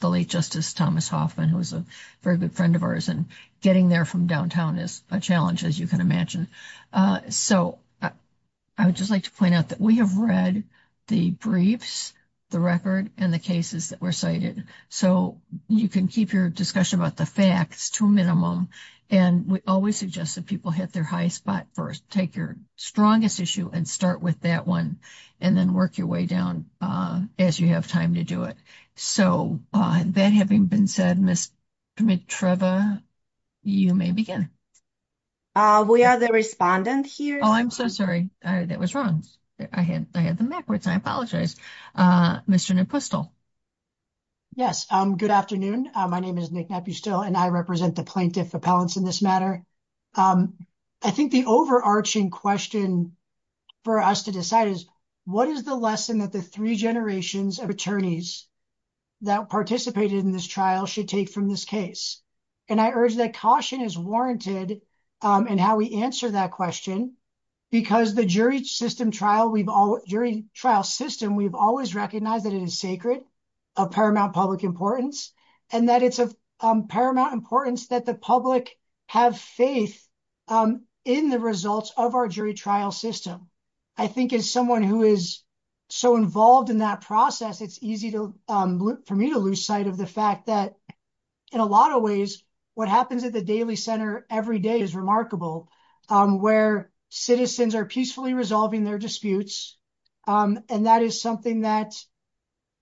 The late Justice Thomas Hoffman, who was a very good friend of ours, and getting there from downtown is a challenge, as you can imagine. So I would just like to point out that we have read the briefs, the record, and the cases that were cited. So you can keep your discussion about the facts to a minimum. And we always suggest that people hit their high spot first, take your strongest issue and start with that one and then work your way down as you have time to do it. So that having been said, Ms. Mitreva, you may begin. We are the respondent here. Oh, I'm so sorry. That was wrong. I had the backwards. I apologize. Mr. Napustel. Yes. Good afternoon. My name is Nick Napustel and I represent the plaintiff appellants in this matter. I think the overarching question for us to decide is what is the lesson that the three generations of attorneys that participated in this trial should take from this case? And I urge that caution is warranted in how we answer that question because the jury system trial we've all jury trial system, we've always recognized that it is sacred of paramount public importance and that it's of paramount importance that the public have faith in the results of our jury trial system. I think as someone who is so involved in that process, it's easy for me to lose sight of the fact that in a lot of ways, what happens at the daily center every day is remarkable where citizens are peacefully resolving their disputes. And that is something that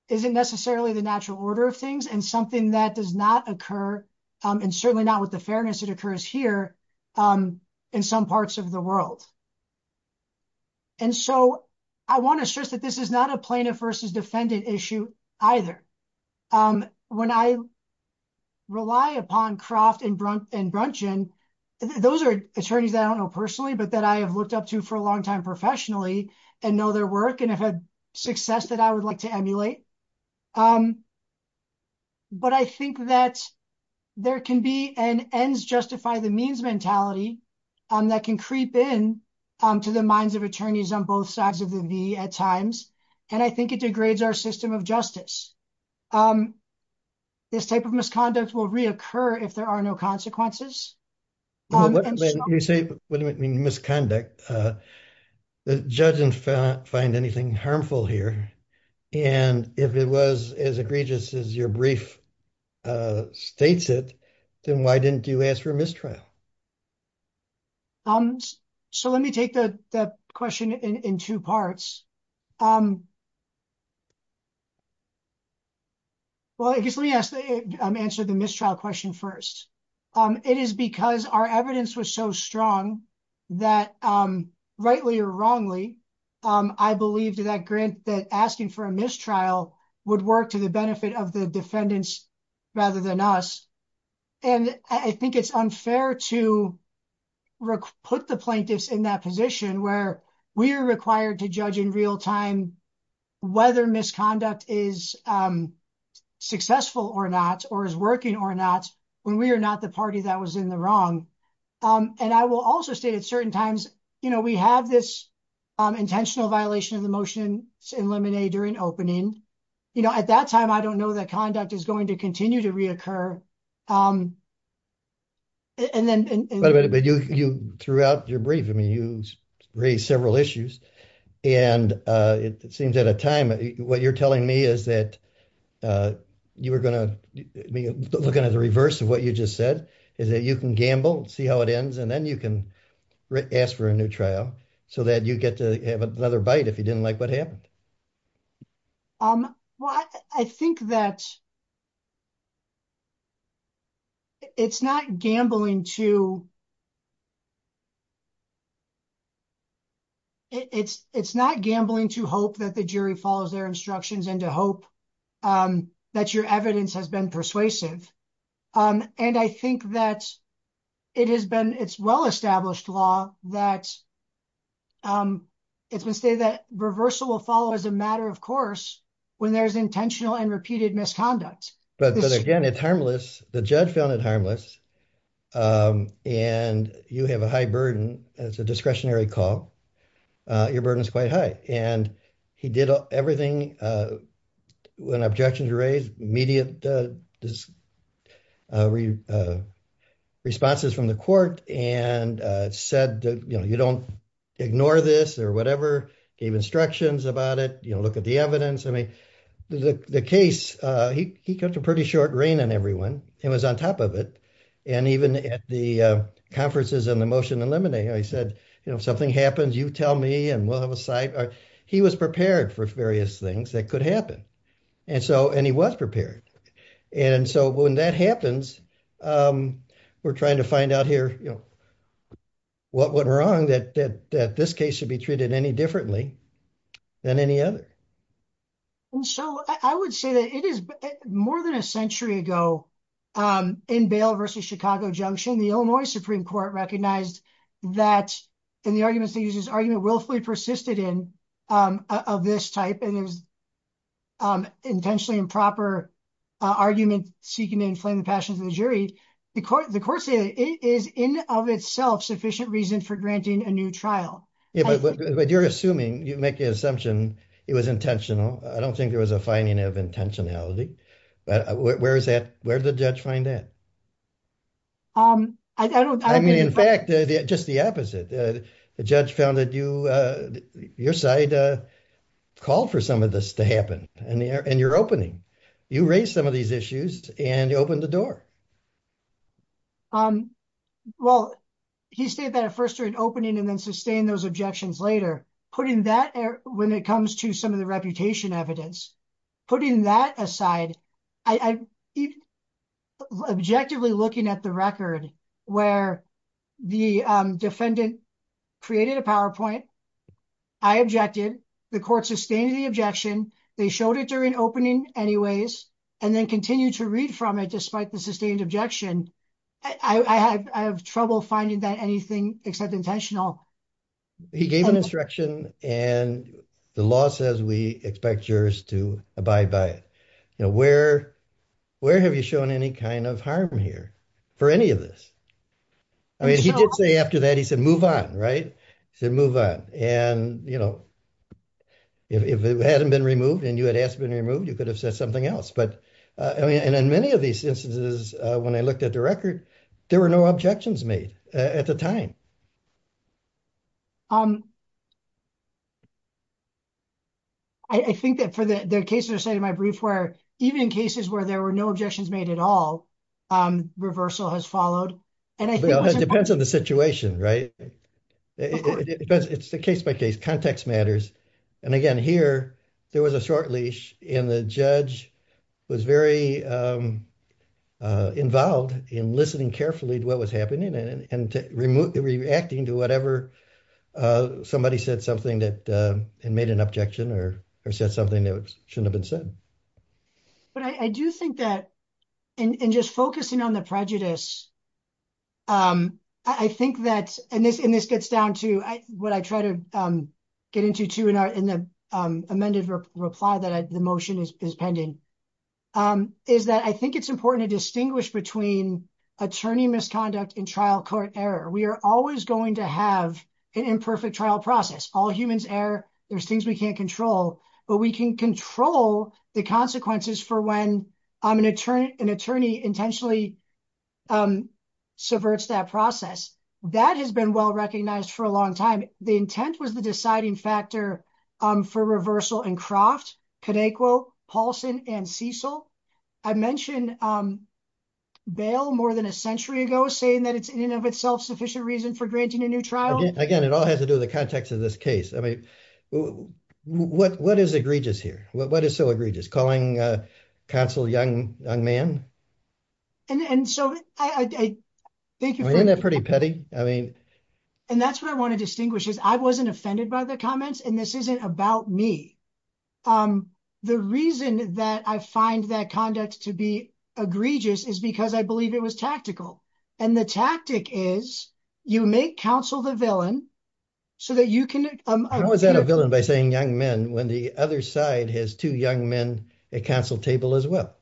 isn't necessarily the natural order of things and something that does not occur and certainly not with the fairness that occurs here in some parts of the world. And so I want to stress that this is not a plaintiff versus defendant issue either. When I rely upon Croft and Brunchen, those are attorneys that I don't know personally, but that I have looked up to for a long time professionally and know their work and have had success that I would like to emulate. But I think that there can be an ends justify the means mentality that can creep in to the minds of attorneys on both sides of the V at times. And I think it degrades our system of justice. This type of misconduct will reoccur if there are no consequences. You say misconduct. The judge didn't find anything harmful here. And if it was as egregious as your brief states it, then why didn't you ask for a mistrial? So let me take the question in two parts. Well, I guess let me answer the mistrial question first. It is because our evidence was so strong that rightly or wrongly, I believed that asking for a mistrial would work to the benefit of the defendants rather than us. And I think it's unfair to put the plaintiffs in that position where we are required to judge in real time whether misconduct is successful or not, or is working or not when we are not the party that was in the wrong. And I will also state at certain times, you know, we have this intentional violation of the motion in Lemonade during opening. You know, at that time, I don't know that conduct is going to continue to reoccur. And then. But you throughout your brief, I mean, you raised several issues and it seems at a time what you're telling me is that you were going to be looking at the reverse of what you just said, is that you can gamble, see how it ends, and then you can ask for a new trial so that you get to have another bite if you didn't like what happened. Well, I think that. It's not gambling to. It's it's not gambling to hope that the jury follows their instructions and to hope that your evidence has been persuasive. And I think that it has been it's well established law that. It's been stated that reversal will follow as a matter, of course, when there is intentional and repeated misconduct. But again, it's harmless. The judge found it harmless. And you have a high burden as a discretionary call. Your burden is quite high. And he did everything when objections were raised, immediate responses from the court and said, you know, you don't ignore this or whatever. Gave instructions about it. You know, look at the evidence. I mean, the case, he got a pretty short reign on everyone. It was on top of it. And even at the conferences and the motion eliminating, I said, you know, something happens, you tell me and we'll have a side. He was prepared for various things that could happen. And so and he was prepared. And so when that happens, we're trying to find out here, you know, what went wrong, that that this case should be treated any differently than any other. And so I would say that it is more than a century ago in Bale versus Chicago Junction, the Illinois Supreme Court recognized that in the arguments that uses argument willfully persisted in of this type and it was intentionally improper argument seeking to inflame the passions of the jury because the court said it is in of itself sufficient reason for granting a new trial. Yeah, but you're assuming you make the assumption it was intentional. I don't think there was a finding of intentionality. But where is that? Where did the judge find that? I don't I mean, in fact, just the opposite. The judge found that you your side called for some of this to happen and you're opening. You raise some of these issues and you open the door. I'm well, he said that at first or an opening and then sustain those objections later, putting that when it comes to some of the reputation evidence, putting that aside, I objectively looking at the record where the defendant created a PowerPoint. I objected. The court sustained the objection. They showed it during opening anyways, and then continue to read from it. Despite the sustained objection, I have trouble finding that anything except intentional. He gave an instruction and the law says we expect jurors to abide by it. You know, where where have you shown any kind of harm here for any of this? I mean, he did say after that, he said, move on. Right. So move on. And, you know, if it hadn't been removed and you had asked to be removed, you could have said something else. But I mean, in many of these instances, when I looked at the record, there were no objections made at the time. I think that for the case of my brief, where even in cases where there were no objections made at all, reversal has followed. And I think it depends on the situation, right? It's the case by case context matters. And again, here there was a short leash and the judge was very involved in listening carefully to what was happening and reacting to whatever somebody said, something that made an objection or said something that shouldn't have been said. But I do think that in just focusing on the prejudice. I think that and this and this gets down to what I try to get into, too, in the amended reply that the motion is pending, is that I think it's important to distinguish between attorney misconduct and trial court error. We are always going to have an imperfect trial process. All humans err. There's things we can't control, but we can control the consequences for when I'm an attorney, an attorney intentionally subverts that process. That has been well recognized for a long time. The intent was the deciding factor for reversal in Croft, Cadeco, Paulson and Cecil. I mentioned bail more than a century ago, saying that it's in and of itself sufficient reason for granting a new trial. Again, it all has to do with the context of this case. I mean, what what is egregious here? What is so egregious? Calling counsel a young young man. And so I think you're pretty petty. I mean, and that's what I want to distinguish is I wasn't offended by the comments, and this isn't about me. The reason that I find that conduct to be egregious is because I believe it was tactical. And the tactic is you make counsel the villain so that you can. I was that a villain by saying young men when the other side has two young men at counsel table as well.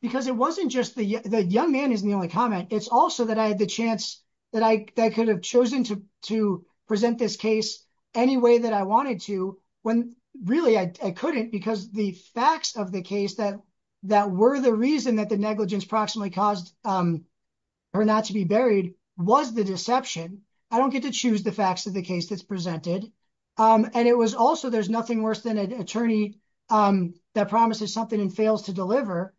Because it wasn't just the young man isn't the only comment. It's also that I had the chance that I could have chosen to to present this case any way that I wanted to when really I couldn't, because the facts of the case that that were the reason that the negligence proximately caused her not to be buried was the deception. I don't get to choose the facts of the case that's presented. And it was also there's nothing worse than an attorney that promises something and fails to deliver.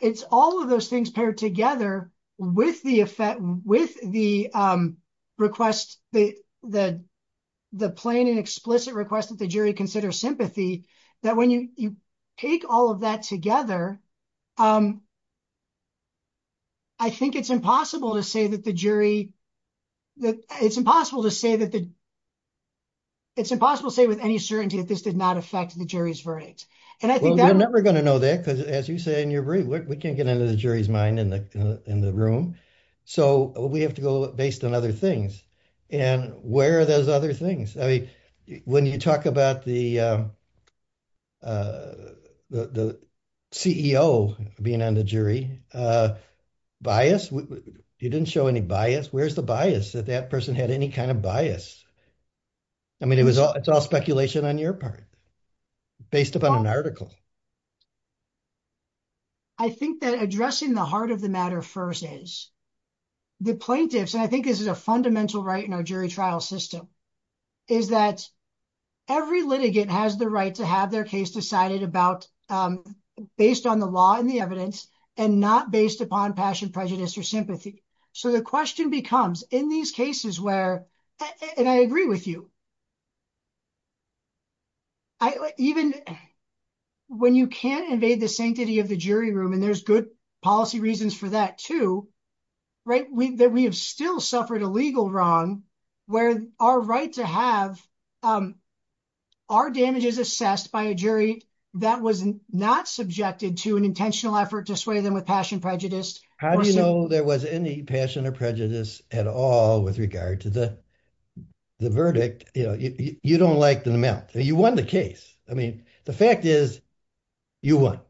It's all of those things paired together with the effect, with the request, the the the plain and explicit request that the jury consider sympathy, that when you take all of that together. I think it's impossible to say that the jury, that it's impossible to say that. It's impossible to say with any certainty that this did not affect the jury's verdict. And I think that we're never going to know that, because as you say, and you're right, we can't get into the jury's mind in the in the room. So we have to go based on other things. And where are those other things? I mean, when you talk about the. The CEO being on the jury bias, you didn't show any bias. Where's the bias that that person had any kind of bias? I mean, it was it's all speculation on your part. Based upon an article. I think that addressing the heart of the matter first is the plaintiffs, and I think this is a fundamental right in our jury trial system, is that every litigant has the right to have their case decided about based on the law and the evidence and not based upon passion, prejudice or sympathy. So the question becomes in these cases where and I agree with you. I even when you can't invade the sanctity of the jury room and there's good policy reasons for that, too, right, we that we have still suffered a legal wrong where our right to have our damages assessed by a jury that was not subjected to an intentional effort to sway them with passion, prejudice. How do you know there was any passion or prejudice at all with regard to the verdict? You know, you don't like the amount. You won the case. I mean, the fact is you won.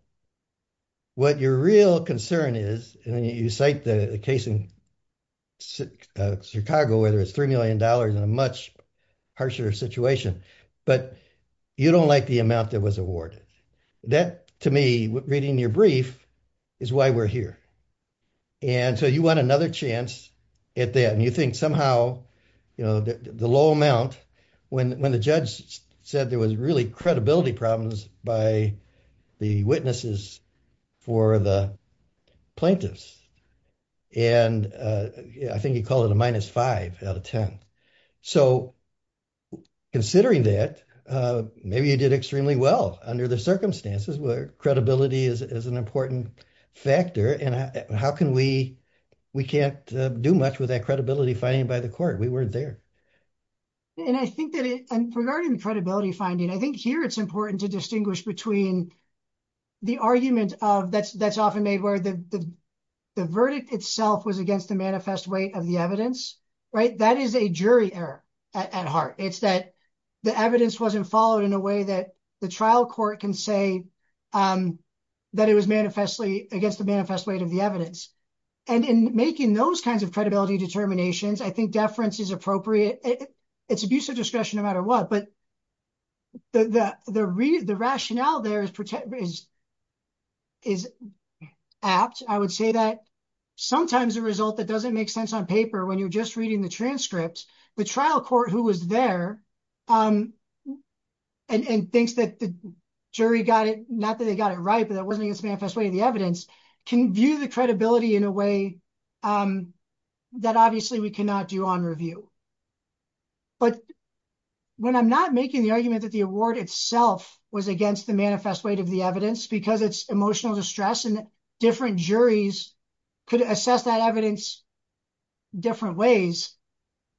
What your real concern is, and you cite the case in Chicago, whether it's three million dollars in a much harsher situation, but you don't like the amount that was awarded. That to me, reading your brief is why we're here. And so you want another chance at that. And you think somehow, you know, the low amount when when the judge said there was really credibility problems by the witnesses for the plaintiffs. And I think you call it a minus five out of 10. So considering that, maybe you did extremely well under the circumstances where credibility is an important factor. And how can we we can't do much with that credibility finding by the court, we weren't there. And I think that regarding the credibility finding, I think here it's important to distinguish between the argument of that's that's often made where the the verdict itself was against the manifest way of the evidence. Right. That is a jury error at heart. It's that the evidence wasn't followed in a way that the trial court can say that it was manifestly against the manifest weight of the evidence. And in making those kinds of credibility determinations, I think deference is appropriate. It's abuse of discretion no matter what. But the the the rationale there is is apt. I would say that sometimes the result that doesn't make sense on paper when you're just reading the transcript, the trial court who was there and thinks that the jury got it, not that they got it right, but that wasn't its manifest way, the evidence can view the credibility in a way that obviously we cannot do on review. But when I'm not making the argument that the award itself was against the manifest weight of the evidence because it's emotional distress and different juries could assess that evidence. Different ways.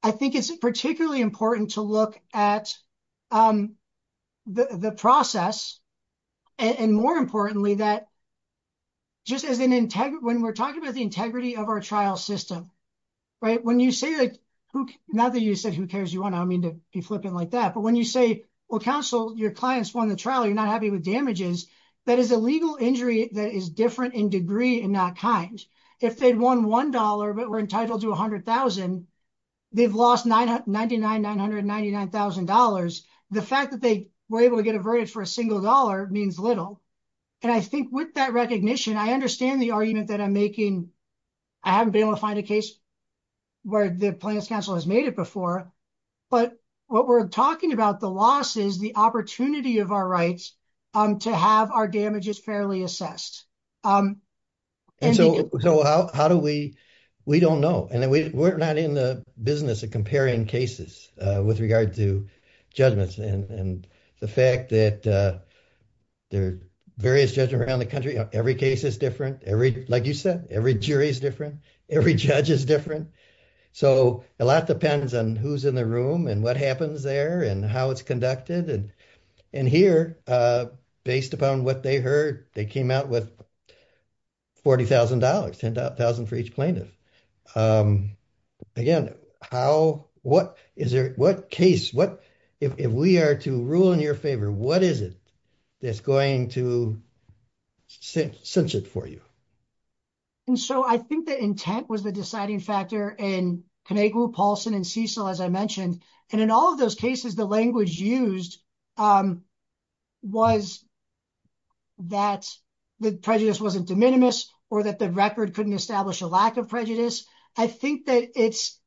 I think it's particularly important to look at the process. And more importantly, that. Just as an integrity, when we're talking about the integrity of our trial system, right, when you say that, not that you said who cares you want, I mean, to be flippant like that, but when you say, well, counsel, your clients won the trial, you're not happy with damages. That is a legal injury that is different in degree and not kind. If they'd won one dollar, but were entitled to one hundred thousand, they've lost nine hundred ninety nine, nine hundred ninety nine thousand dollars. The fact that they were able to get a verdict for a single dollar means little. And I think with that recognition, I understand the argument that I'm making. I haven't been able to find a case where the plaintiff's counsel has made it before. But what we're talking about, the loss is the opportunity of our rights to have our damages fairly assessed. And so how do we we don't know? And we're not in the business of comparing cases with regard to judgments. And the fact that there are various judge around the country, every case is different. Every like you said, every jury is different. Every judge is different. So a lot depends on who's in the room and what happens there and how it's conducted. And and here, based upon what they heard, they came out with forty thousand dollars, ten thousand for each plaintiff. Again, how what is there? What case? What if we are to rule in your favor? What is it that's going to cinch it for you? And so I think the intent was the deciding factor in Conegro, Paulson and Cecil, as I mentioned, and in all of those cases, the language used was that the prejudice wasn't de minimis or that the record couldn't establish a lack of prejudice. I think that it's.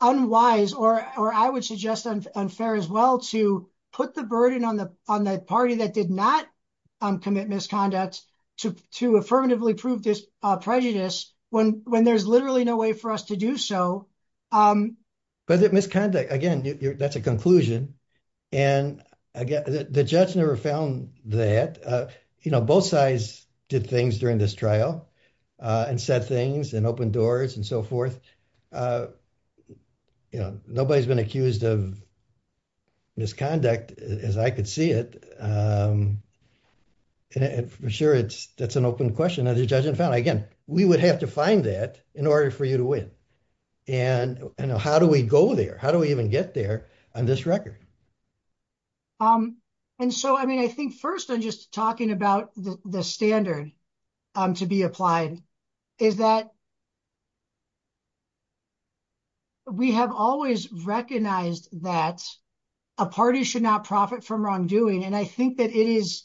Unwise or or I would suggest unfair as well to put the burden on the on the party that did not commit misconduct to to affirmatively prove this prejudice when when there's literally no way for us to do so. But that misconduct, again, that's a conclusion. And again, the judge never found that, you know, both sides did things during this trial and said things and opened doors and so forth. You know, nobody's been accused of. Misconduct, as I could see it. And for sure, it's that's an open question of the judge and found, again, we would have to find that in order for you to win. And how do we go there? How do we even get there on this record? And so, I mean, I think first, I'm just talking about the standard to be applied is that. We have always recognized that a party should not profit from wrongdoing, and I think that it is.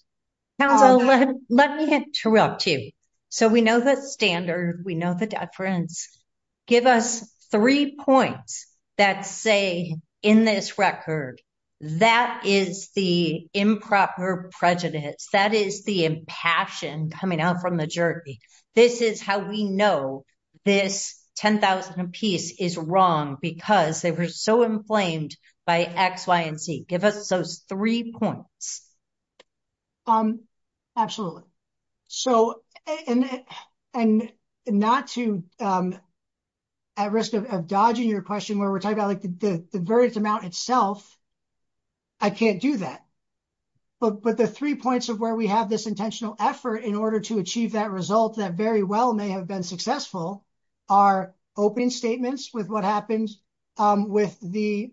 Now, let me interrupt you. So we know the standard. We know the difference. Give us three points that say in this record that is the improper prejudice, that is the impassion coming out from the jury. This is how we know this 10,000 apiece is wrong because they were so inflamed by X, Y and Z. Give us those three points. Absolutely. So and not to at risk of dodging your question, where we're talking about the verdict amount itself. I can't do that. But but the three points of where we have this intentional effort in order to achieve that result that very well may have been successful are open statements with what happens with the.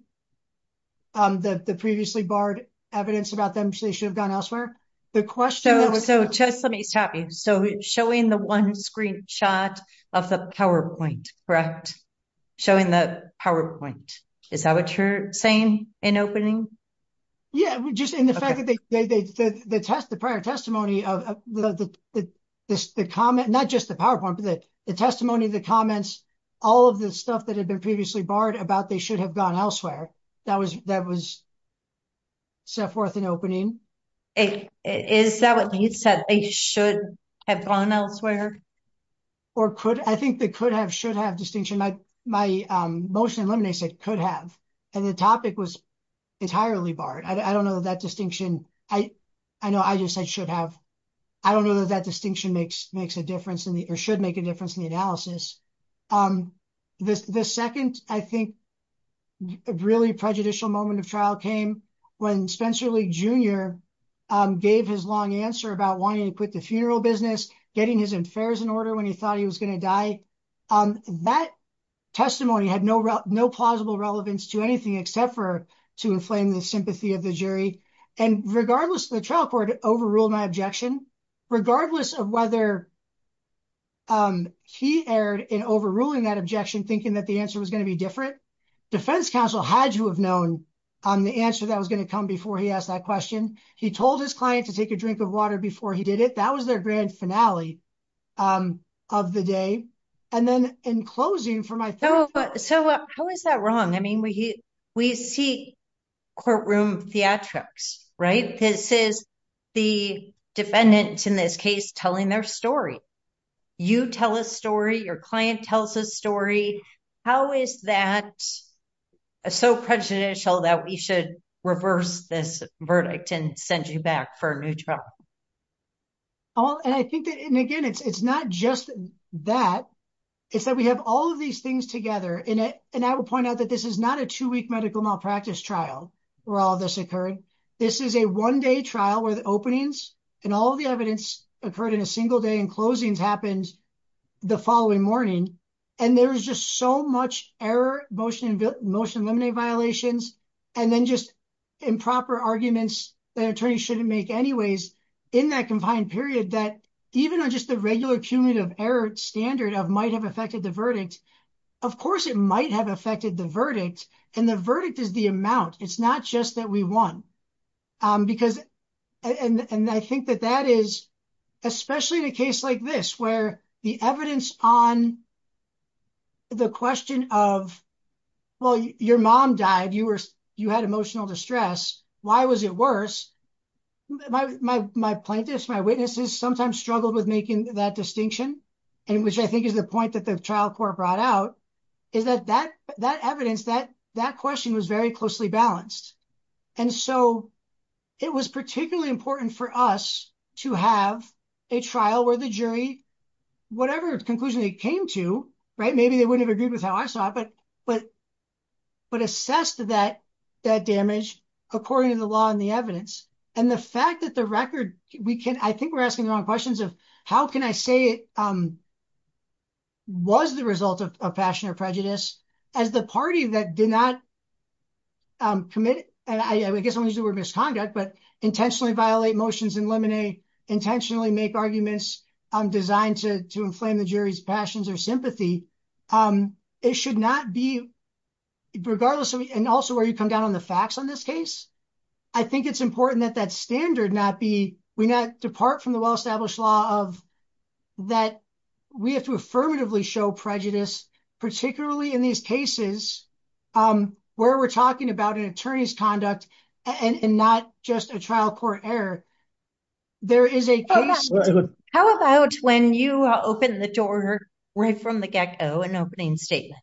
The previously barred evidence about them, they should have gone elsewhere. The question. So just let me stop you. So showing the one screenshot of the PowerPoint, correct? Showing the PowerPoint. Is that what you're saying in opening? Yeah, just in the fact that they did the test, the prior testimony of the comment, not just the PowerPoint, but the testimony, the comments, all of the stuff that had been previously barred about, they should have gone elsewhere. That was that was. So forth, an opening, it is that what you said they should have gone elsewhere or could. I think they could have should have distinction. My my motion eliminates it could have. And the topic was entirely barred. I don't know that distinction. I I know I just said should have. I don't know that that distinction makes makes a difference in the or should make a difference in the analysis. This the second, I think. A really prejudicial moment of trial came when Spencer Lee Jr. gave his long answer about wanting to quit the funeral business, getting his affairs in order when he thought he was going to die. That testimony had no no plausible relevance to anything except for to inflame the sympathy of the jury. And regardless, the trial court overruled my objection, regardless of whether. He erred in overruling that objection, thinking that the answer was going to be different. Defense counsel had to have known the answer that was going to come before he asked that question. He told his client to take a drink of water before he did it. That was their grand finale of the day. And then in closing for my. So how is that wrong? I mean, we we see courtroom theatrics, right? This is the defendants in this case telling their story. You tell a story. Your client tells a story. How is that so prejudicial that we should reverse this verdict and send you back for a new trial? Oh, and I think that and again, it's not just that. It's that we have all of these things together in it. And I will point out that this is not a two week medical malpractice trial where all this occurred. This is a one day trial where the openings and all the evidence occurred in a single day and closings happened the following morning. And there's just so much error, motion, motion, limiting violations and then just improper arguments that attorneys shouldn't make anyways in that confined period that even on just the regular cumulative error standard of might have affected the verdict. Of course, it might have affected the verdict. And the verdict is the amount. It's not just that we won because. And I think that that is especially in a case like this, where the evidence on. The question of, well, your mom died, you were you had emotional distress. Why was it worse? My my my plaintiffs, my witnesses sometimes struggled with making that distinction, and which I think is the point that the trial court brought out is that that that evidence, that that question was very closely balanced. And so it was particularly important for us to have a trial where the jury, whatever conclusion it came to. Right. Maybe they wouldn't have agreed with how I saw it. But but but assessed that that damage, according to the law and the evidence and the fact that the record we can. I think we're asking the wrong questions of how can I say it? Was the result of a passion or prejudice as the party that did not. Commit, I guess, was it were misconduct, but intentionally violate motions, eliminate, intentionally make arguments designed to to inflame the jury's passions or sympathy. It should not be regardless. And also where you come down on the facts on this case. I think it's important that that standard not be we not depart from the well-established law of that. We have to affirmatively show prejudice, particularly in these cases where we're talking about an attorney's conduct and not just a trial court error. There is a case. How about when you open the door right from the get go, an opening statement?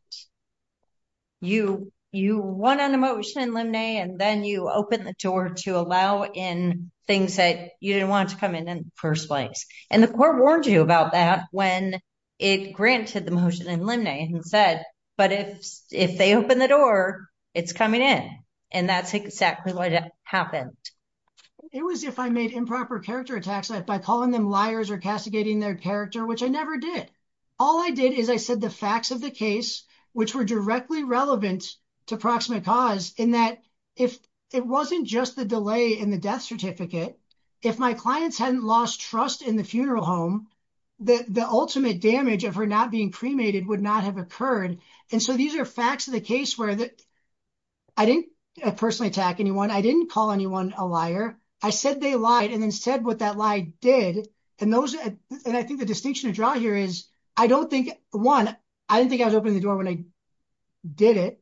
You you want an emotion and then you open the door to allow in things that you didn't want to come in in the first place. And the court warned you about that when it granted the motion and said, but if if they open the door, it's coming in. And that's exactly what happened. It was if I made improper character attacks by calling them liars or castigating their character, which I never did. All I did is I said the facts of the case, which were directly relevant to proximate cause in that if it wasn't just the delay in the death certificate, if my clients hadn't lost trust in the funeral home, that the ultimate damage of her not being cremated would not have occurred. And so these are facts of the case where that I didn't personally attack anyone. I didn't call anyone a liar. I said they lied and then said what that lie did. And those and I think the distinction to draw here is I don't think one, I don't think I was opening the door when I did it.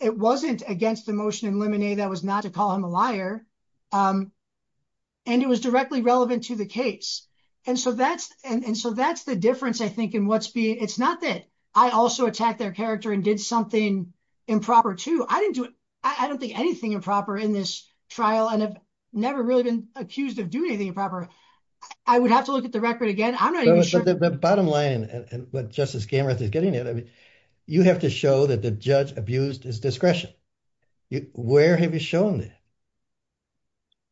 It wasn't against the motion in Lemonade that was not to call him a liar. And it was directly relevant to the case. And so that's and so that's the difference, I think, in what's being. It's not that I also attacked their character and did something improper, too. I didn't do it. I don't think anything improper in this trial and have never really been accused of doing anything improper. I would have to look at the record again. I'm not even sure the bottom line and what Justice Gammerth is getting at. I mean, you have to show that the judge abused his discretion. Where have you shown that?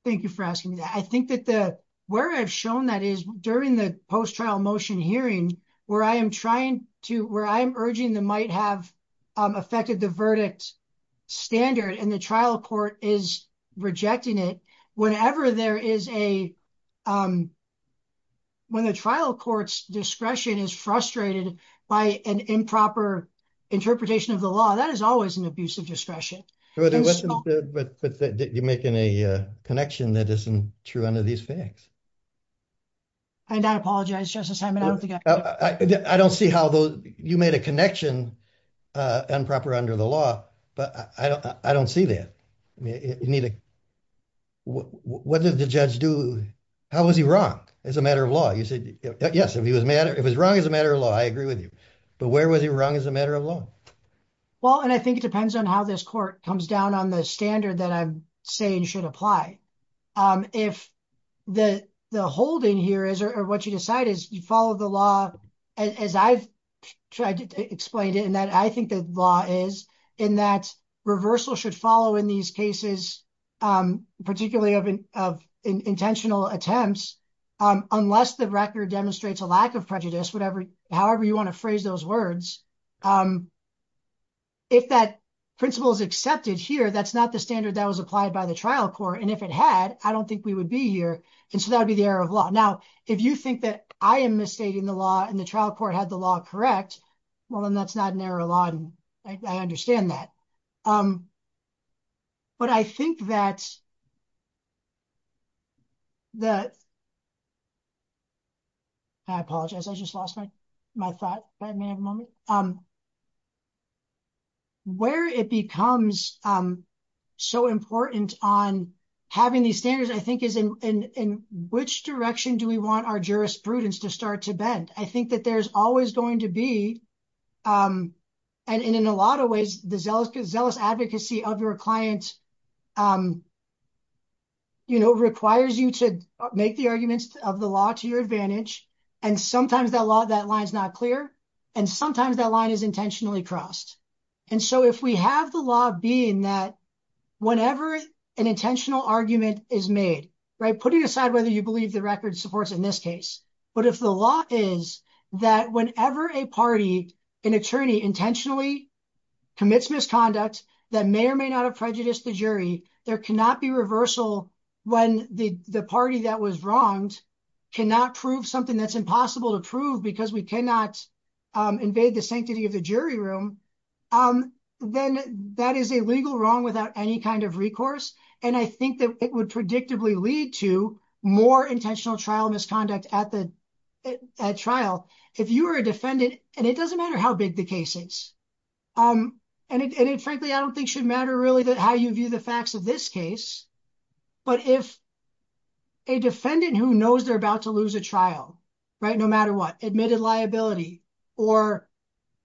Thank you for asking that. I think that the where I've shown that is during the post trial motion hearing where I am trying to where I'm urging the might have affected the verdict standard and the trial court is rejecting it. Whenever there is a. When the trial court's discretion is frustrated by an improper interpretation of the law, that is always an abusive discretion. But you make any connection that isn't true under these facts. And I apologize, Justice, I don't think I don't see how you made a connection improper under the law, but I don't I don't see that. I mean, you need to. What does the judge do? How was he wrong as a matter of law? You said, yes, if he was mad, it was wrong as a matter of law. I agree with you. But where was he wrong as a matter of law? Well, and I think it depends on how this court comes down on the standard that I'm saying should apply. If the the holding here is or what you decide is you follow the law, as I've tried to explain it, and that I think the law is in that reversal should follow in these cases, particularly of of intentional attempts, unless the record demonstrates a lack of prejudice, whatever. However, you want to phrase those words. If that principle is accepted here, that's not the standard that was applied by the trial court, and if it had, I don't think we would be here. And so that would be the error of law. Now, if you think that I am misstating the law and the trial court had the law correct, well, then that's not an error of law. I understand that. But I think that. That. I apologize, I just lost my my thought, but I may have a moment. Where it becomes so important on having these standards, I think, is in in which direction do we want our jurisprudence to start to bend? I think that there's always going to be and in a lot of ways, the zealous zealous advocacy of your client. You know, requires you to make the arguments of the law to your advantage, and sometimes that law, that line is not clear, and sometimes that line is intentionally crossed. And so if we have the law being that whenever an intentional argument is made, right, putting aside whether you believe the record supports in this case. But if the law is that whenever a party, an attorney intentionally commits misconduct that may or may not have prejudiced the jury, there cannot be reversal when the party that was wronged cannot prove something that's impossible to prove because we cannot invade the sanctity of the jury room. Then that is a legal wrong without any kind of recourse. And I think that it would predictably lead to more intentional trial misconduct at the trial if you are a defendant. And it doesn't matter how big the case is. And it frankly, I don't think should matter really that how you view the facts of this case. But if. A defendant who knows they're about to lose a trial, right, no matter what admitted liability or,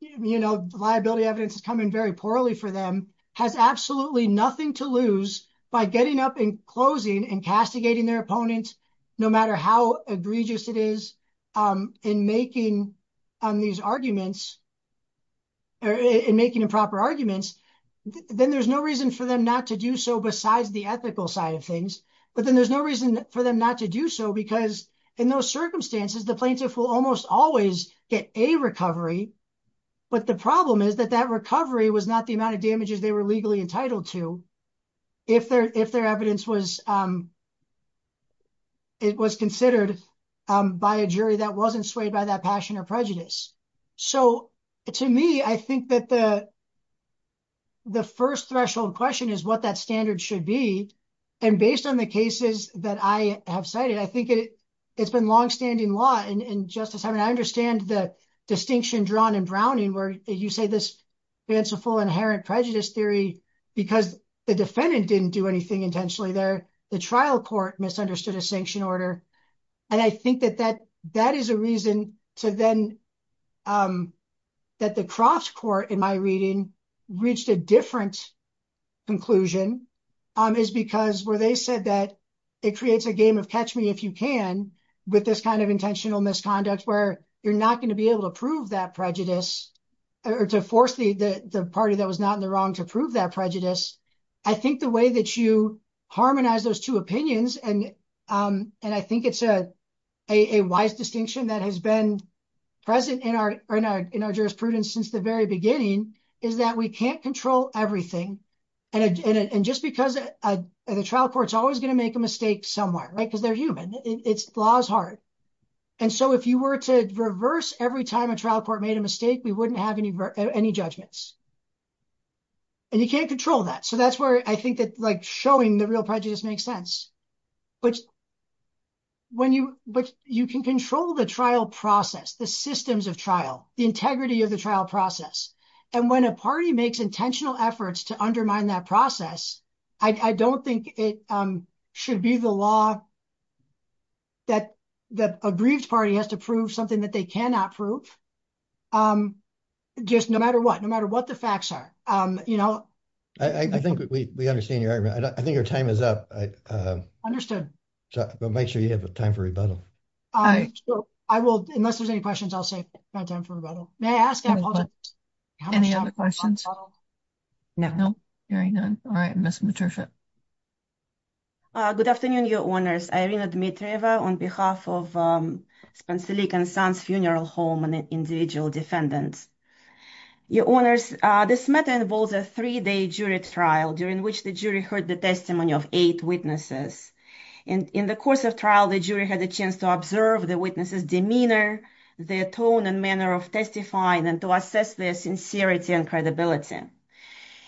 you know, liability evidence is coming very poorly for them, has absolutely nothing to lose by getting up and closing and castigating their opponent, no matter how egregious it is in making on these arguments. Or in making improper arguments, then there's no reason for them not to do so besides the ethical side of things. But then there's no reason for them not to do so, because in those circumstances, the plaintiff will almost always get a recovery. But the problem is that that recovery was not the amount of damages they were legally entitled to. If their if their evidence was. It was considered by a jury that wasn't swayed by that passion or prejudice. So to me, I think that the. The first threshold question is what that standard should be. And based on the cases that I have cited, I think it's been longstanding law and justice, I mean, I understand the distinction drawn in Browning where you say this fanciful inherent prejudice theory, because the defendant didn't do anything intentionally there. The trial court misunderstood a sanction order. And I think that that that is a reason to then that the cross court in my reading reached a different conclusion is because where they said that it creates a game of catch me if you can with this kind of intentional misconduct, where you're not going to be able to prove that prejudice or to force the party that was not in the wrong to prove that prejudice. I think the way that you harmonize those two opinions and and I think it's a a wise distinction that has been present in our in our jurisprudence since the very beginning is that we can't control everything. And just because the trial court's always going to make a mistake somewhere, right, because they're human, it's laws hard. And so if you were to reverse every time a trial court made a mistake, we wouldn't have any any judgments. And you can't control that. So that's where I think that like showing the real prejudice makes sense. But. When you but you can control the trial process, the systems of trial, the integrity of the trial process, and when a party makes intentional efforts to undermine that process, I don't think it should be the law. That the aggrieved party has to prove something that they cannot prove just no matter what, no matter what the facts are. You know, I think we understand your argument. I think your time is up. Understood. So make sure you have time for rebuttal. I will. Unless there's any questions, I'll say no time for rebuttal. May I ask any other questions? No, no. All right. Miss Patricia. Good afternoon, your honors. Irina Dmitrieva, on behalf of Spansolik and Sons Funeral Home and individual defendants. Your honors, this matter involves a three day jury trial during which the jury heard the testimony of eight witnesses. And in the course of trial, the jury had a chance to observe the witnesses demeanor, their tone and manner of testifying and to assess their sincerity and credibility.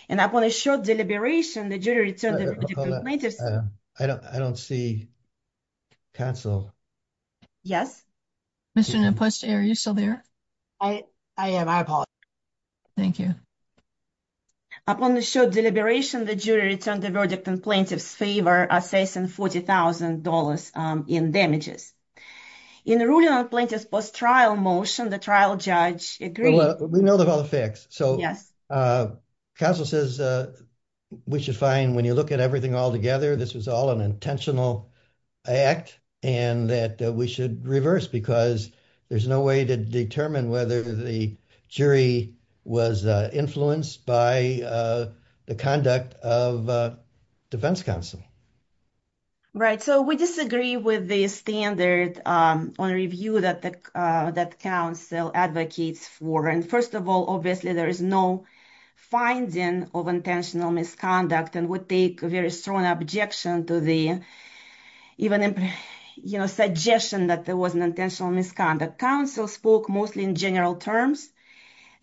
And upon a short deliberation, the jury returned. I don't I don't see. Counsel. Yes, Mr. No question. Are you still there? I am. I apologize. Thank you. Upon the short deliberation, the jury returned the verdict in plaintiff's favor, assessing $40,000 in damages in ruling on plaintiff's post trial motion. The trial judge agreed. We know about the facts. So, yes, Castle says we should find when you look at everything altogether, this was all an intentional act and that we should reverse because there's no way to determine whether the jury was influenced by the conduct of defense counsel. Right, so we disagree with the standard on review that the that counsel advocates for. And first of all, obviously, there is no finding of intentional misconduct and would take a very strong objection to the even, you know, suggestion that there was an intentional misconduct. Counsel spoke mostly in general terms.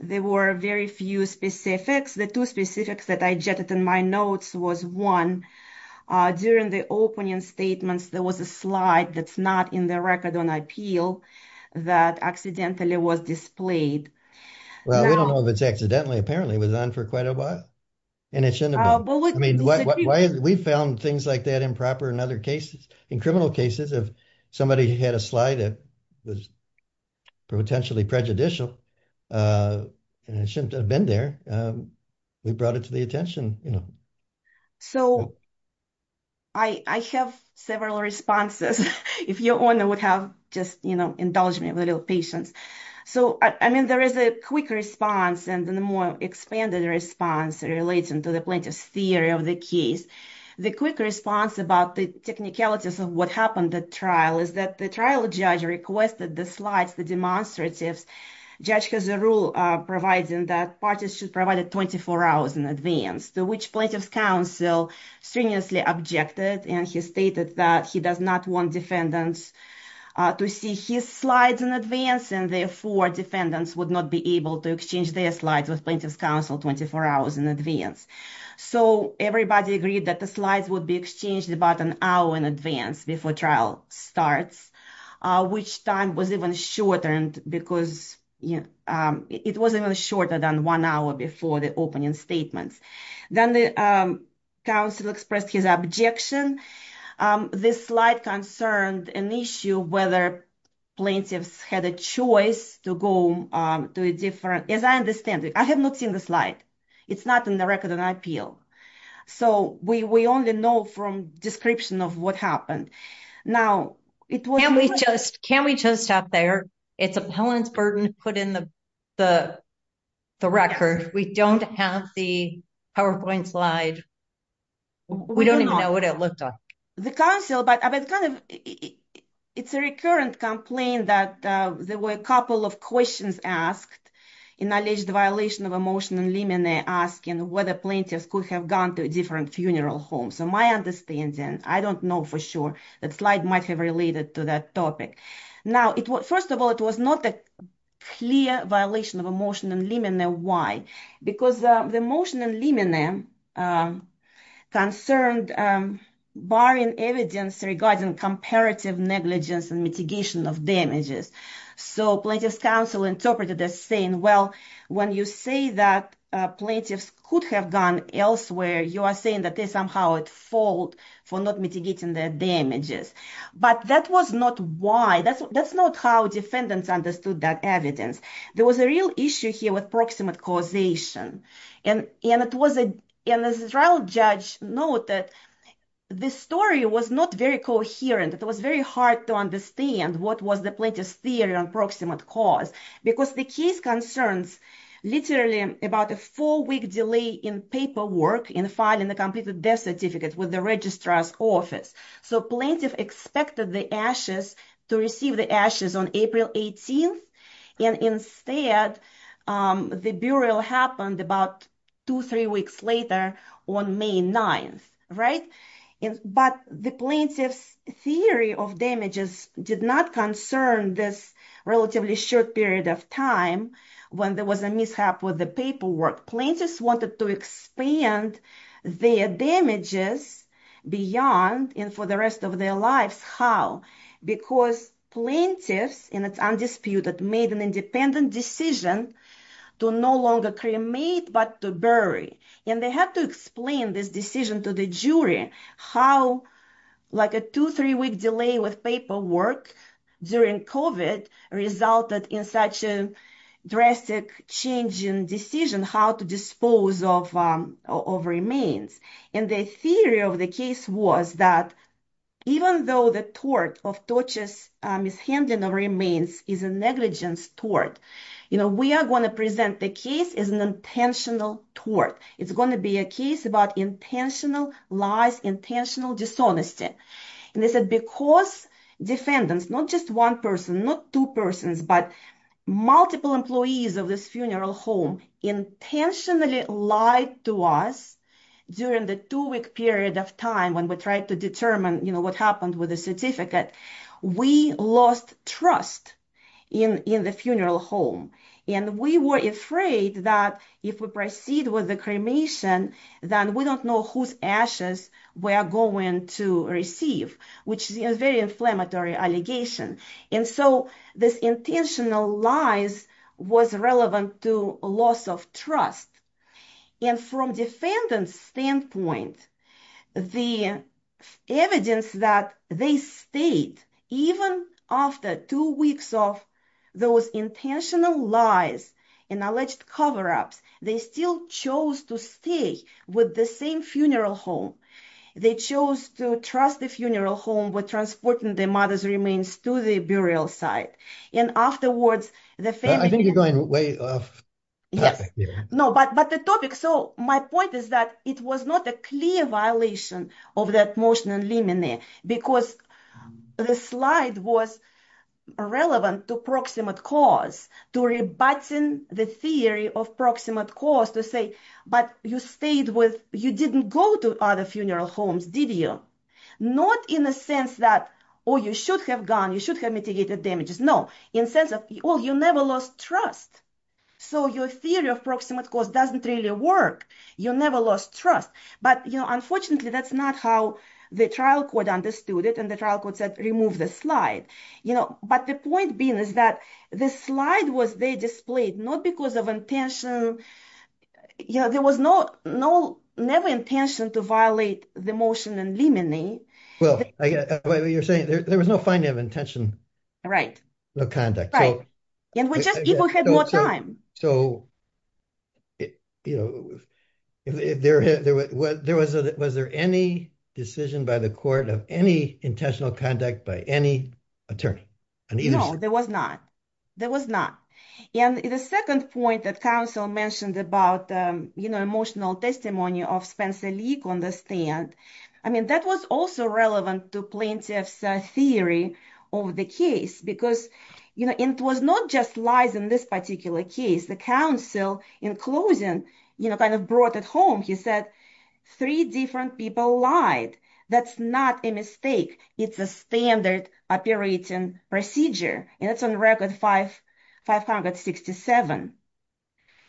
There were very few specifics. The two specifics that I jetted in my notes was one during the opening statements, there was a slide that's not in the record on appeal that accidentally was displayed. Well, we don't know if it's accidentally. Apparently, it was on for quite a while. And it shouldn't have been. I mean, why? We found things like that improper in other cases, in criminal cases. If somebody had a slide that was potentially prejudicial and it shouldn't have been there, we brought it to the attention, you know. So. I have several responses. If your owner would have just, you know, indulge me with a little patience. So, I mean, there is a quick response and a more expanded response relating to the plaintiff's theory of the case. The quick response about the technicalities of what happened at trial is that the trial judge requested the slides, the demonstratives. Judge has a rule providing that parties should provide it 24 hours in advance, to which plaintiff's counsel strenuously objected. And he stated that he does not want defendants to see his slides in advance. And therefore, defendants would not be able to exchange their slides with plaintiff's counsel 24 hours in advance. So everybody agreed that the slides would be exchanged about an hour in advance before trial starts, which time was even shortened because, you know, it was even shorter than one hour before the opening statements. Then the counsel expressed his objection. This slide concerned an issue whether plaintiffs had a choice to go to a different... As I understand it, I have not seen the slide. It's not in the record of an appeal. So we only know from description of what happened. Now, it was... Can we just stop there? It's a pellant's burden to put in the record. We don't have the PowerPoint slide. We don't even know what it looked like. The counsel, but it's a recurrent complaint that there were a couple of questions asked in alleged violation of a motion in Limine, asking whether plaintiffs could have gone to a different funeral home. So my understanding, I don't know for sure that slide might have related to that topic. Now, first of all, it was not a clear violation of a motion in Limine. Why? Because the motion in Limine concerned barring evidence regarding comparative negligence and mitigation of damages. So plaintiff's counsel interpreted as saying, well, when you say that plaintiffs could have gone elsewhere, you are saying that they somehow at fault for not mitigating their damages. But that was not why. That's not how defendants understood that evidence. There was a real issue here with proximate causation. And it was a trial judge noted the story was not very coherent. It was very hard to understand what was the plaintiff's theory on proximate cause, because the case concerns literally about a four week delay in paperwork in filing the completed death certificate with the registrar's office. So plaintiff expected the ashes to receive the ashes on April 18th. And instead, the burial happened about two, three weeks later on May 9th. Right. But the plaintiff's theory of damages did not concern this relatively short period of time when there was a mishap with the paperwork. Plaintiffs wanted to expand their damages beyond and for the rest of their lives. How? Because plaintiffs, and it's undisputed, made an independent decision to no longer cremate, but to bury. And they had to explain this decision to the jury, how like a two, three week delay with paperwork during COVID resulted in such a drastic change in decision, how to dispose of remains. And the theory of the case was that even though the tort of tortious mishandling of remains is a negligence tort, you know, we are going to present the case as an intentional tort. It's going to be a case about intentional lies, intentional dishonesty. And they said because defendants, not just one person, not two persons, but multiple employees of this funeral home intentionally lied to us during the two week period of time when we tried to determine, you know, what happened with the certificate, we lost trust in the funeral home. And we were afraid that if we proceed with the cremation, then we don't know whose ashes we are going to receive, which is a very inflammatory allegation. And so this intentional lies was relevant to a loss of trust. And from defendants standpoint, the evidence that they stayed even after two weeks of those intentional lies and alleged cover ups, they still chose to stay with the same funeral home. They chose to trust the funeral home with transporting the mother's remains to the burial site. And afterwards, the family... I think you're going way off topic here. No, but the topic. So my point is that it was not a clear violation of that motion in Limine, because the slide was relevant to proximate cause, to rebutting the theory of proximate cause to say, but you stayed with... You didn't go to other funeral homes, did you? Not in the sense that, oh, you should have gone, you should have mitigated damages. No, in the sense of, oh, you never lost trust. So your theory of proximate cause doesn't really work. You never lost trust. But, you know, unfortunately, that's not how the trial court understood it. And the trial court said, remove the slide. You know, but the point being is that the slide was there displayed not because of intention. You know, there was no, no, never intention to violate the motion in Limine. Well, you're saying there was no finding of intention of conduct. Right. And we just even had more time. So, you know, was there any decision by the court of any intentional conduct by any attorney? No, there was not. There was not. And the second point that counsel mentioned about, you know, emotional testimony of Spencer Leak on the stand. I mean, that was also relevant to plaintiff's theory of the case because, you know, it was not just lies in this particular case. The counsel in closing, you know, kind of brought it home. He said three different people lied. That's not a mistake. It's a standard operating procedure. And it's on record five five hundred sixty seven.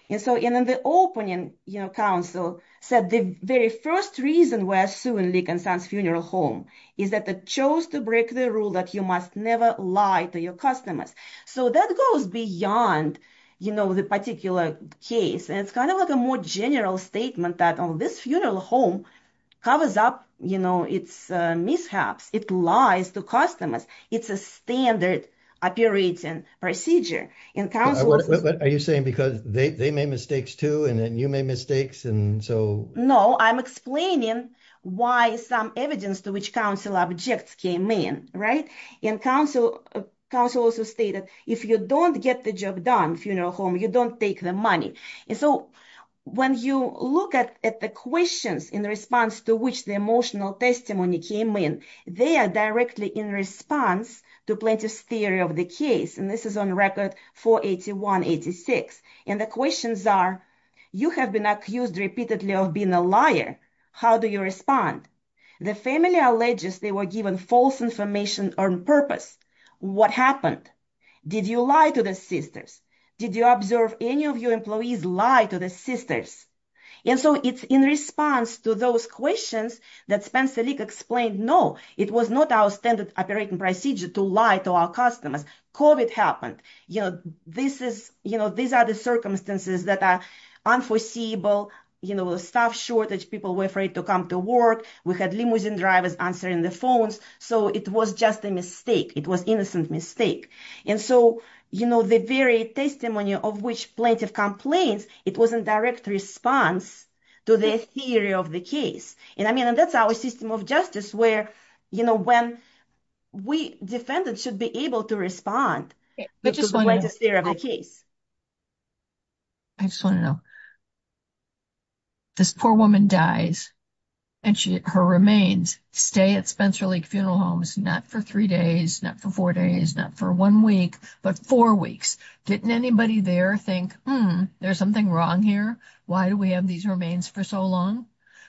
And so in the opening, you know, counsel said the very first reason we're suing Leak and Sons Funeral Home is that they chose to break the rule that you must never lie to your customers. So that goes beyond, you know, the particular case. And it's kind of like a more general statement that this funeral home covers up, you know, it's mishaps. It lies to customers. It's a standard operating procedure. And what are you saying? Because they made mistakes, too. And then you made mistakes. And so, no, I'm explaining why some evidence to which counsel objects came in. Right. And counsel also stated if you don't get the job done, funeral home, you don't take the money. And so when you look at the questions in response to which the emotional testimony came in, they are directly in response to plaintiff's theory of the case. And this is on record for eighty one eighty six. And the questions are you have been accused repeatedly of being a liar. How do you respond? The family alleges they were given false information on purpose. What happened? Did you lie to the sisters? Did you observe any of your employees lie to the sisters? And so it's in response to those questions that Spencer League explained, no, it was not our standard operating procedure to lie to our customers. Covid happened. You know, this is you know, these are the circumstances that are unforeseeable. You know, the staff shortage, people were afraid to come to work. We had limousine drivers answering the phones. So it was just a mistake. It was innocent mistake. And so, you know, the very testimony of which plaintiff complains, it was in direct response to the theory of the case. And I mean, and that's our system of justice where, you know, when we defendants should be able to respond, which is the case. I just want to know. This poor woman dies and she her remains stay at Spencer League Funeral Homes, not for three days, not for four days, not for one week, but four weeks. Didn't anybody there think, hmm, there's something wrong here? Why do we have these remains for so long?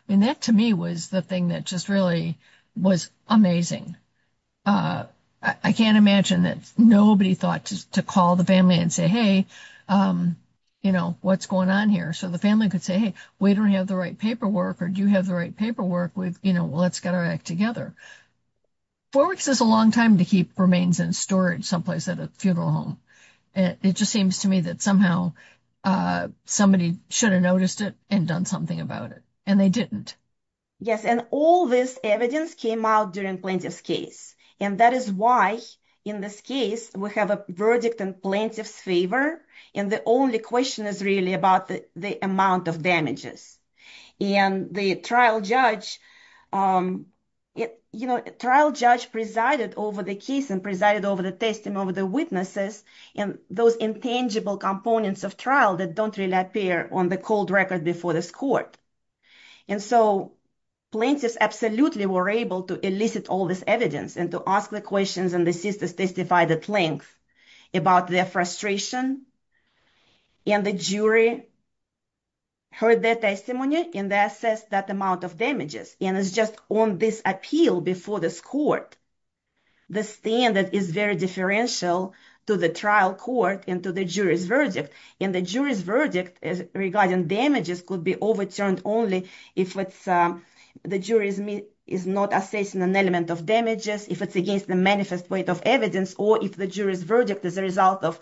I mean, that to me was the thing that just really was amazing. I can't imagine that nobody thought to call the family and say, hey, you know, what's going on here? So the family could say, hey, we don't have the right paperwork or do you have the right paperwork with, you know, let's get our act together. Four weeks is a long time to keep remains in storage someplace at a funeral home. And it just seems to me that somehow somebody should have noticed it and done something about it. And they didn't. Yes. And all this evidence came out during plaintiff's case. And that is why in this case we have a verdict in plaintiff's favor. And the only question is really about the amount of damages. And the trial judge, you know, trial judge presided over the case and presided over the testimony of the witnesses and those intangible components of trial that don't really appear on the cold record before this court. And so plaintiffs absolutely were able to elicit all this evidence and to ask the questions and the sisters testified at length about their frustration. And the jury heard their testimony and they assessed that amount of damages. And it's just on this appeal before this court, the standard is very differential to the trial court and to the jury's verdict. And the jury's verdict regarding damages could be overturned only if it's the jury is not assessing an element of damages, if it's against the manifest weight of evidence or if the jury's verdict is a result of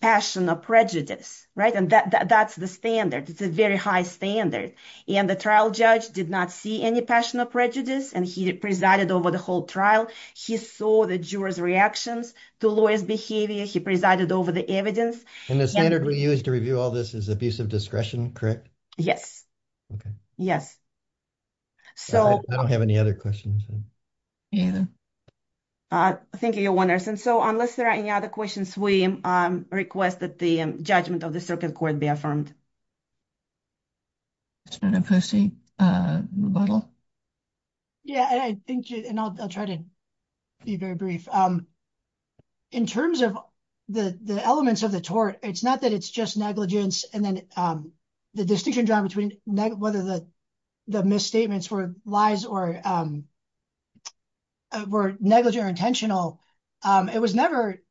passion or prejudice. Right. And that's the standard. It's a very high standard. And the trial judge did not see any passion or prejudice and he presided over the whole trial. He saw the jurors reactions to lawyers behavior. He presided over the evidence. And the standard we use to review all this is abusive discretion, correct? Yes. Yes. So I don't have any other questions. Yeah, I think you're wondering, and so unless there are any other questions, we request that the judgment of the circuit court be affirmed. It's been a posting model. Yeah, I think and I'll try to be very brief in terms of the elements of the tort, it's not that it's just negligence and then the distinction drawn between whether the misstatements were lies or were negligent or intentional. It was never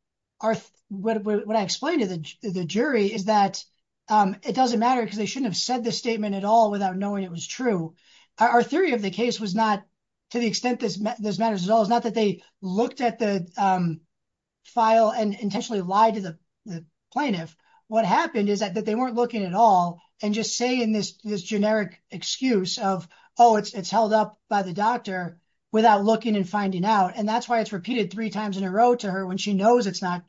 what I explained to the jury is that it doesn't matter because they shouldn't have said the statement at all without knowing it was true. Our theory of the case was not to the extent this matters at all. It's not that they looked at the file and intentionally lied to the plaintiff. What happened is that they weren't looking at all and just saying this generic excuse of, oh, it's held up by the doctor without looking and finding out. And that's why it's repeated three times in a row to her when she knows it's not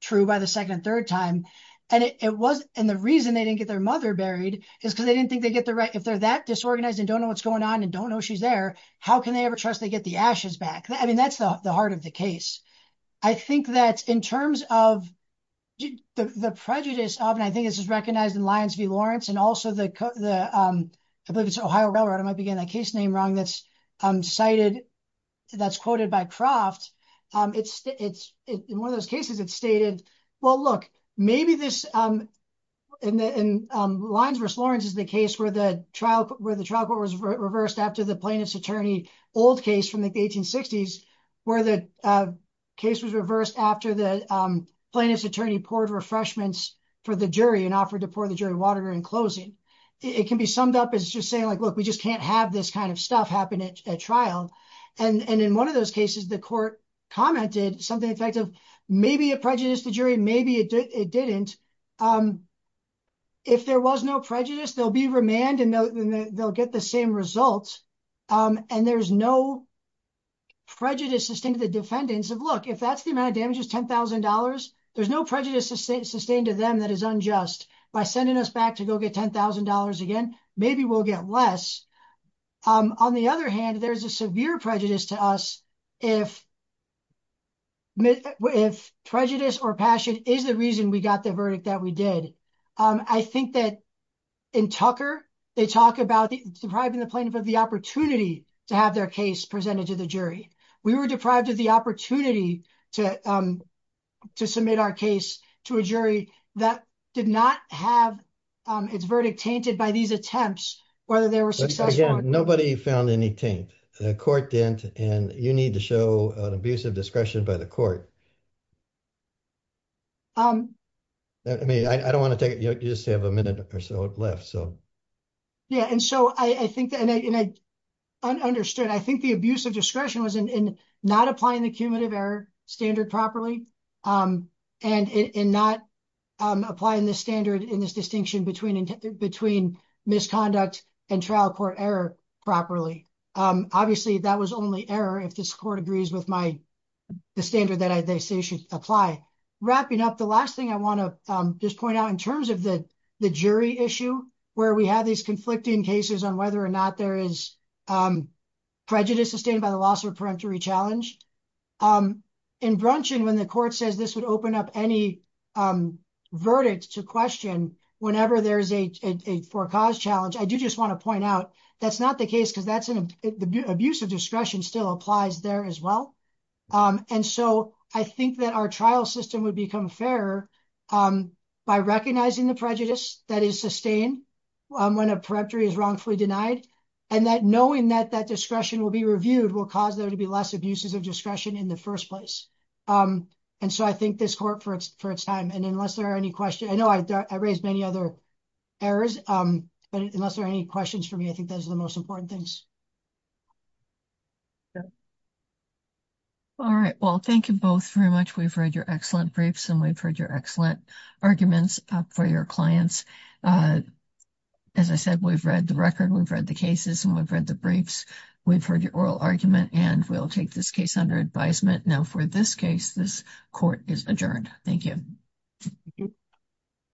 true by the second and third time. And it was and the reason they didn't get their mother buried is because they didn't think they get the right if they're that disorganized and don't know what's going on and don't know she's there. How can they ever trust they get the ashes back? I mean, that's the heart of the case. I think that in terms of the prejudice of and I think this is recognized in Lyons v. Lawrence and also the Ohio Railroad, I might begin a case name wrong. That's cited. That's quoted by Croft. It's it's one of those cases. It's stated, well, look, maybe this in Lyons v. Lawrence is the case where the trial where the trial court was reversed after the plaintiff's attorney. Old case from the 1860s. Where the case was reversed after the plaintiff's attorney poured refreshments for the jury and offered to pour the jury water in closing. It can be summed up as just saying, look, we just can't have this kind of stuff happen at trial. And in one of those cases, the court commented something effective, maybe a prejudice to jury. Maybe it didn't. If there was no prejudice, there'll be remand and they'll get the same results and there's no. Prejudice sustained to the defendants of look, if that's the amount of damage is ten thousand dollars, there's no prejudice sustained to them that is unjust by sending us back to go get ten thousand dollars again. Maybe we'll get less. On the other hand, there's a severe prejudice to us if. If prejudice or passion is the reason we got the verdict that we did, I think that in Tucker, they talk about depriving the plaintiff of the opportunity to have their case presented to the jury. We were deprived of the opportunity to to submit our case to a jury that did not have its verdict tainted by these attempts. Whether they were successful, again, nobody found any taint, the court didn't. And you need to show an abuse of discretion by the court. I mean, I don't want to take it, you just have a minute or so left, so. Yeah, and so I think that I understood, I think the abuse of discretion was in not applying the cumulative error standard properly and in not applying the standard in this distinction between and between misconduct and trial court error properly. Obviously, that was only error if this court agrees with my the standard that I think. Apply. Wrapping up the last thing I want to just point out in terms of the jury issue where we have these conflicting cases on whether or not there is prejudice sustained by the loss or peremptory challenge in Brunson, when the court says this would open up any verdict to question whenever there is a four cause challenge. I do just want to point out that's not the case because that's an abuse of discretion still applies there as well. And so I think that our trial system would become fairer by recognizing the prejudice that is sustained when a peremptory is wrongfully denied and that knowing that that discretion will be reviewed will cause there to be less abuses of discretion in the first place. And so I think this court for its time and unless there are any questions, I know I raised many other errors, but unless there are any questions for me, I think those are the most important things. All right, well, thank you both very much. We've read your excellent briefs and we've heard your excellent arguments for your clients. As I said, we've read the record, we've read the cases and we've read the briefs. We've heard your oral argument and we'll take this case under advisement. Now, for this case, this court is adjourned. Thank you.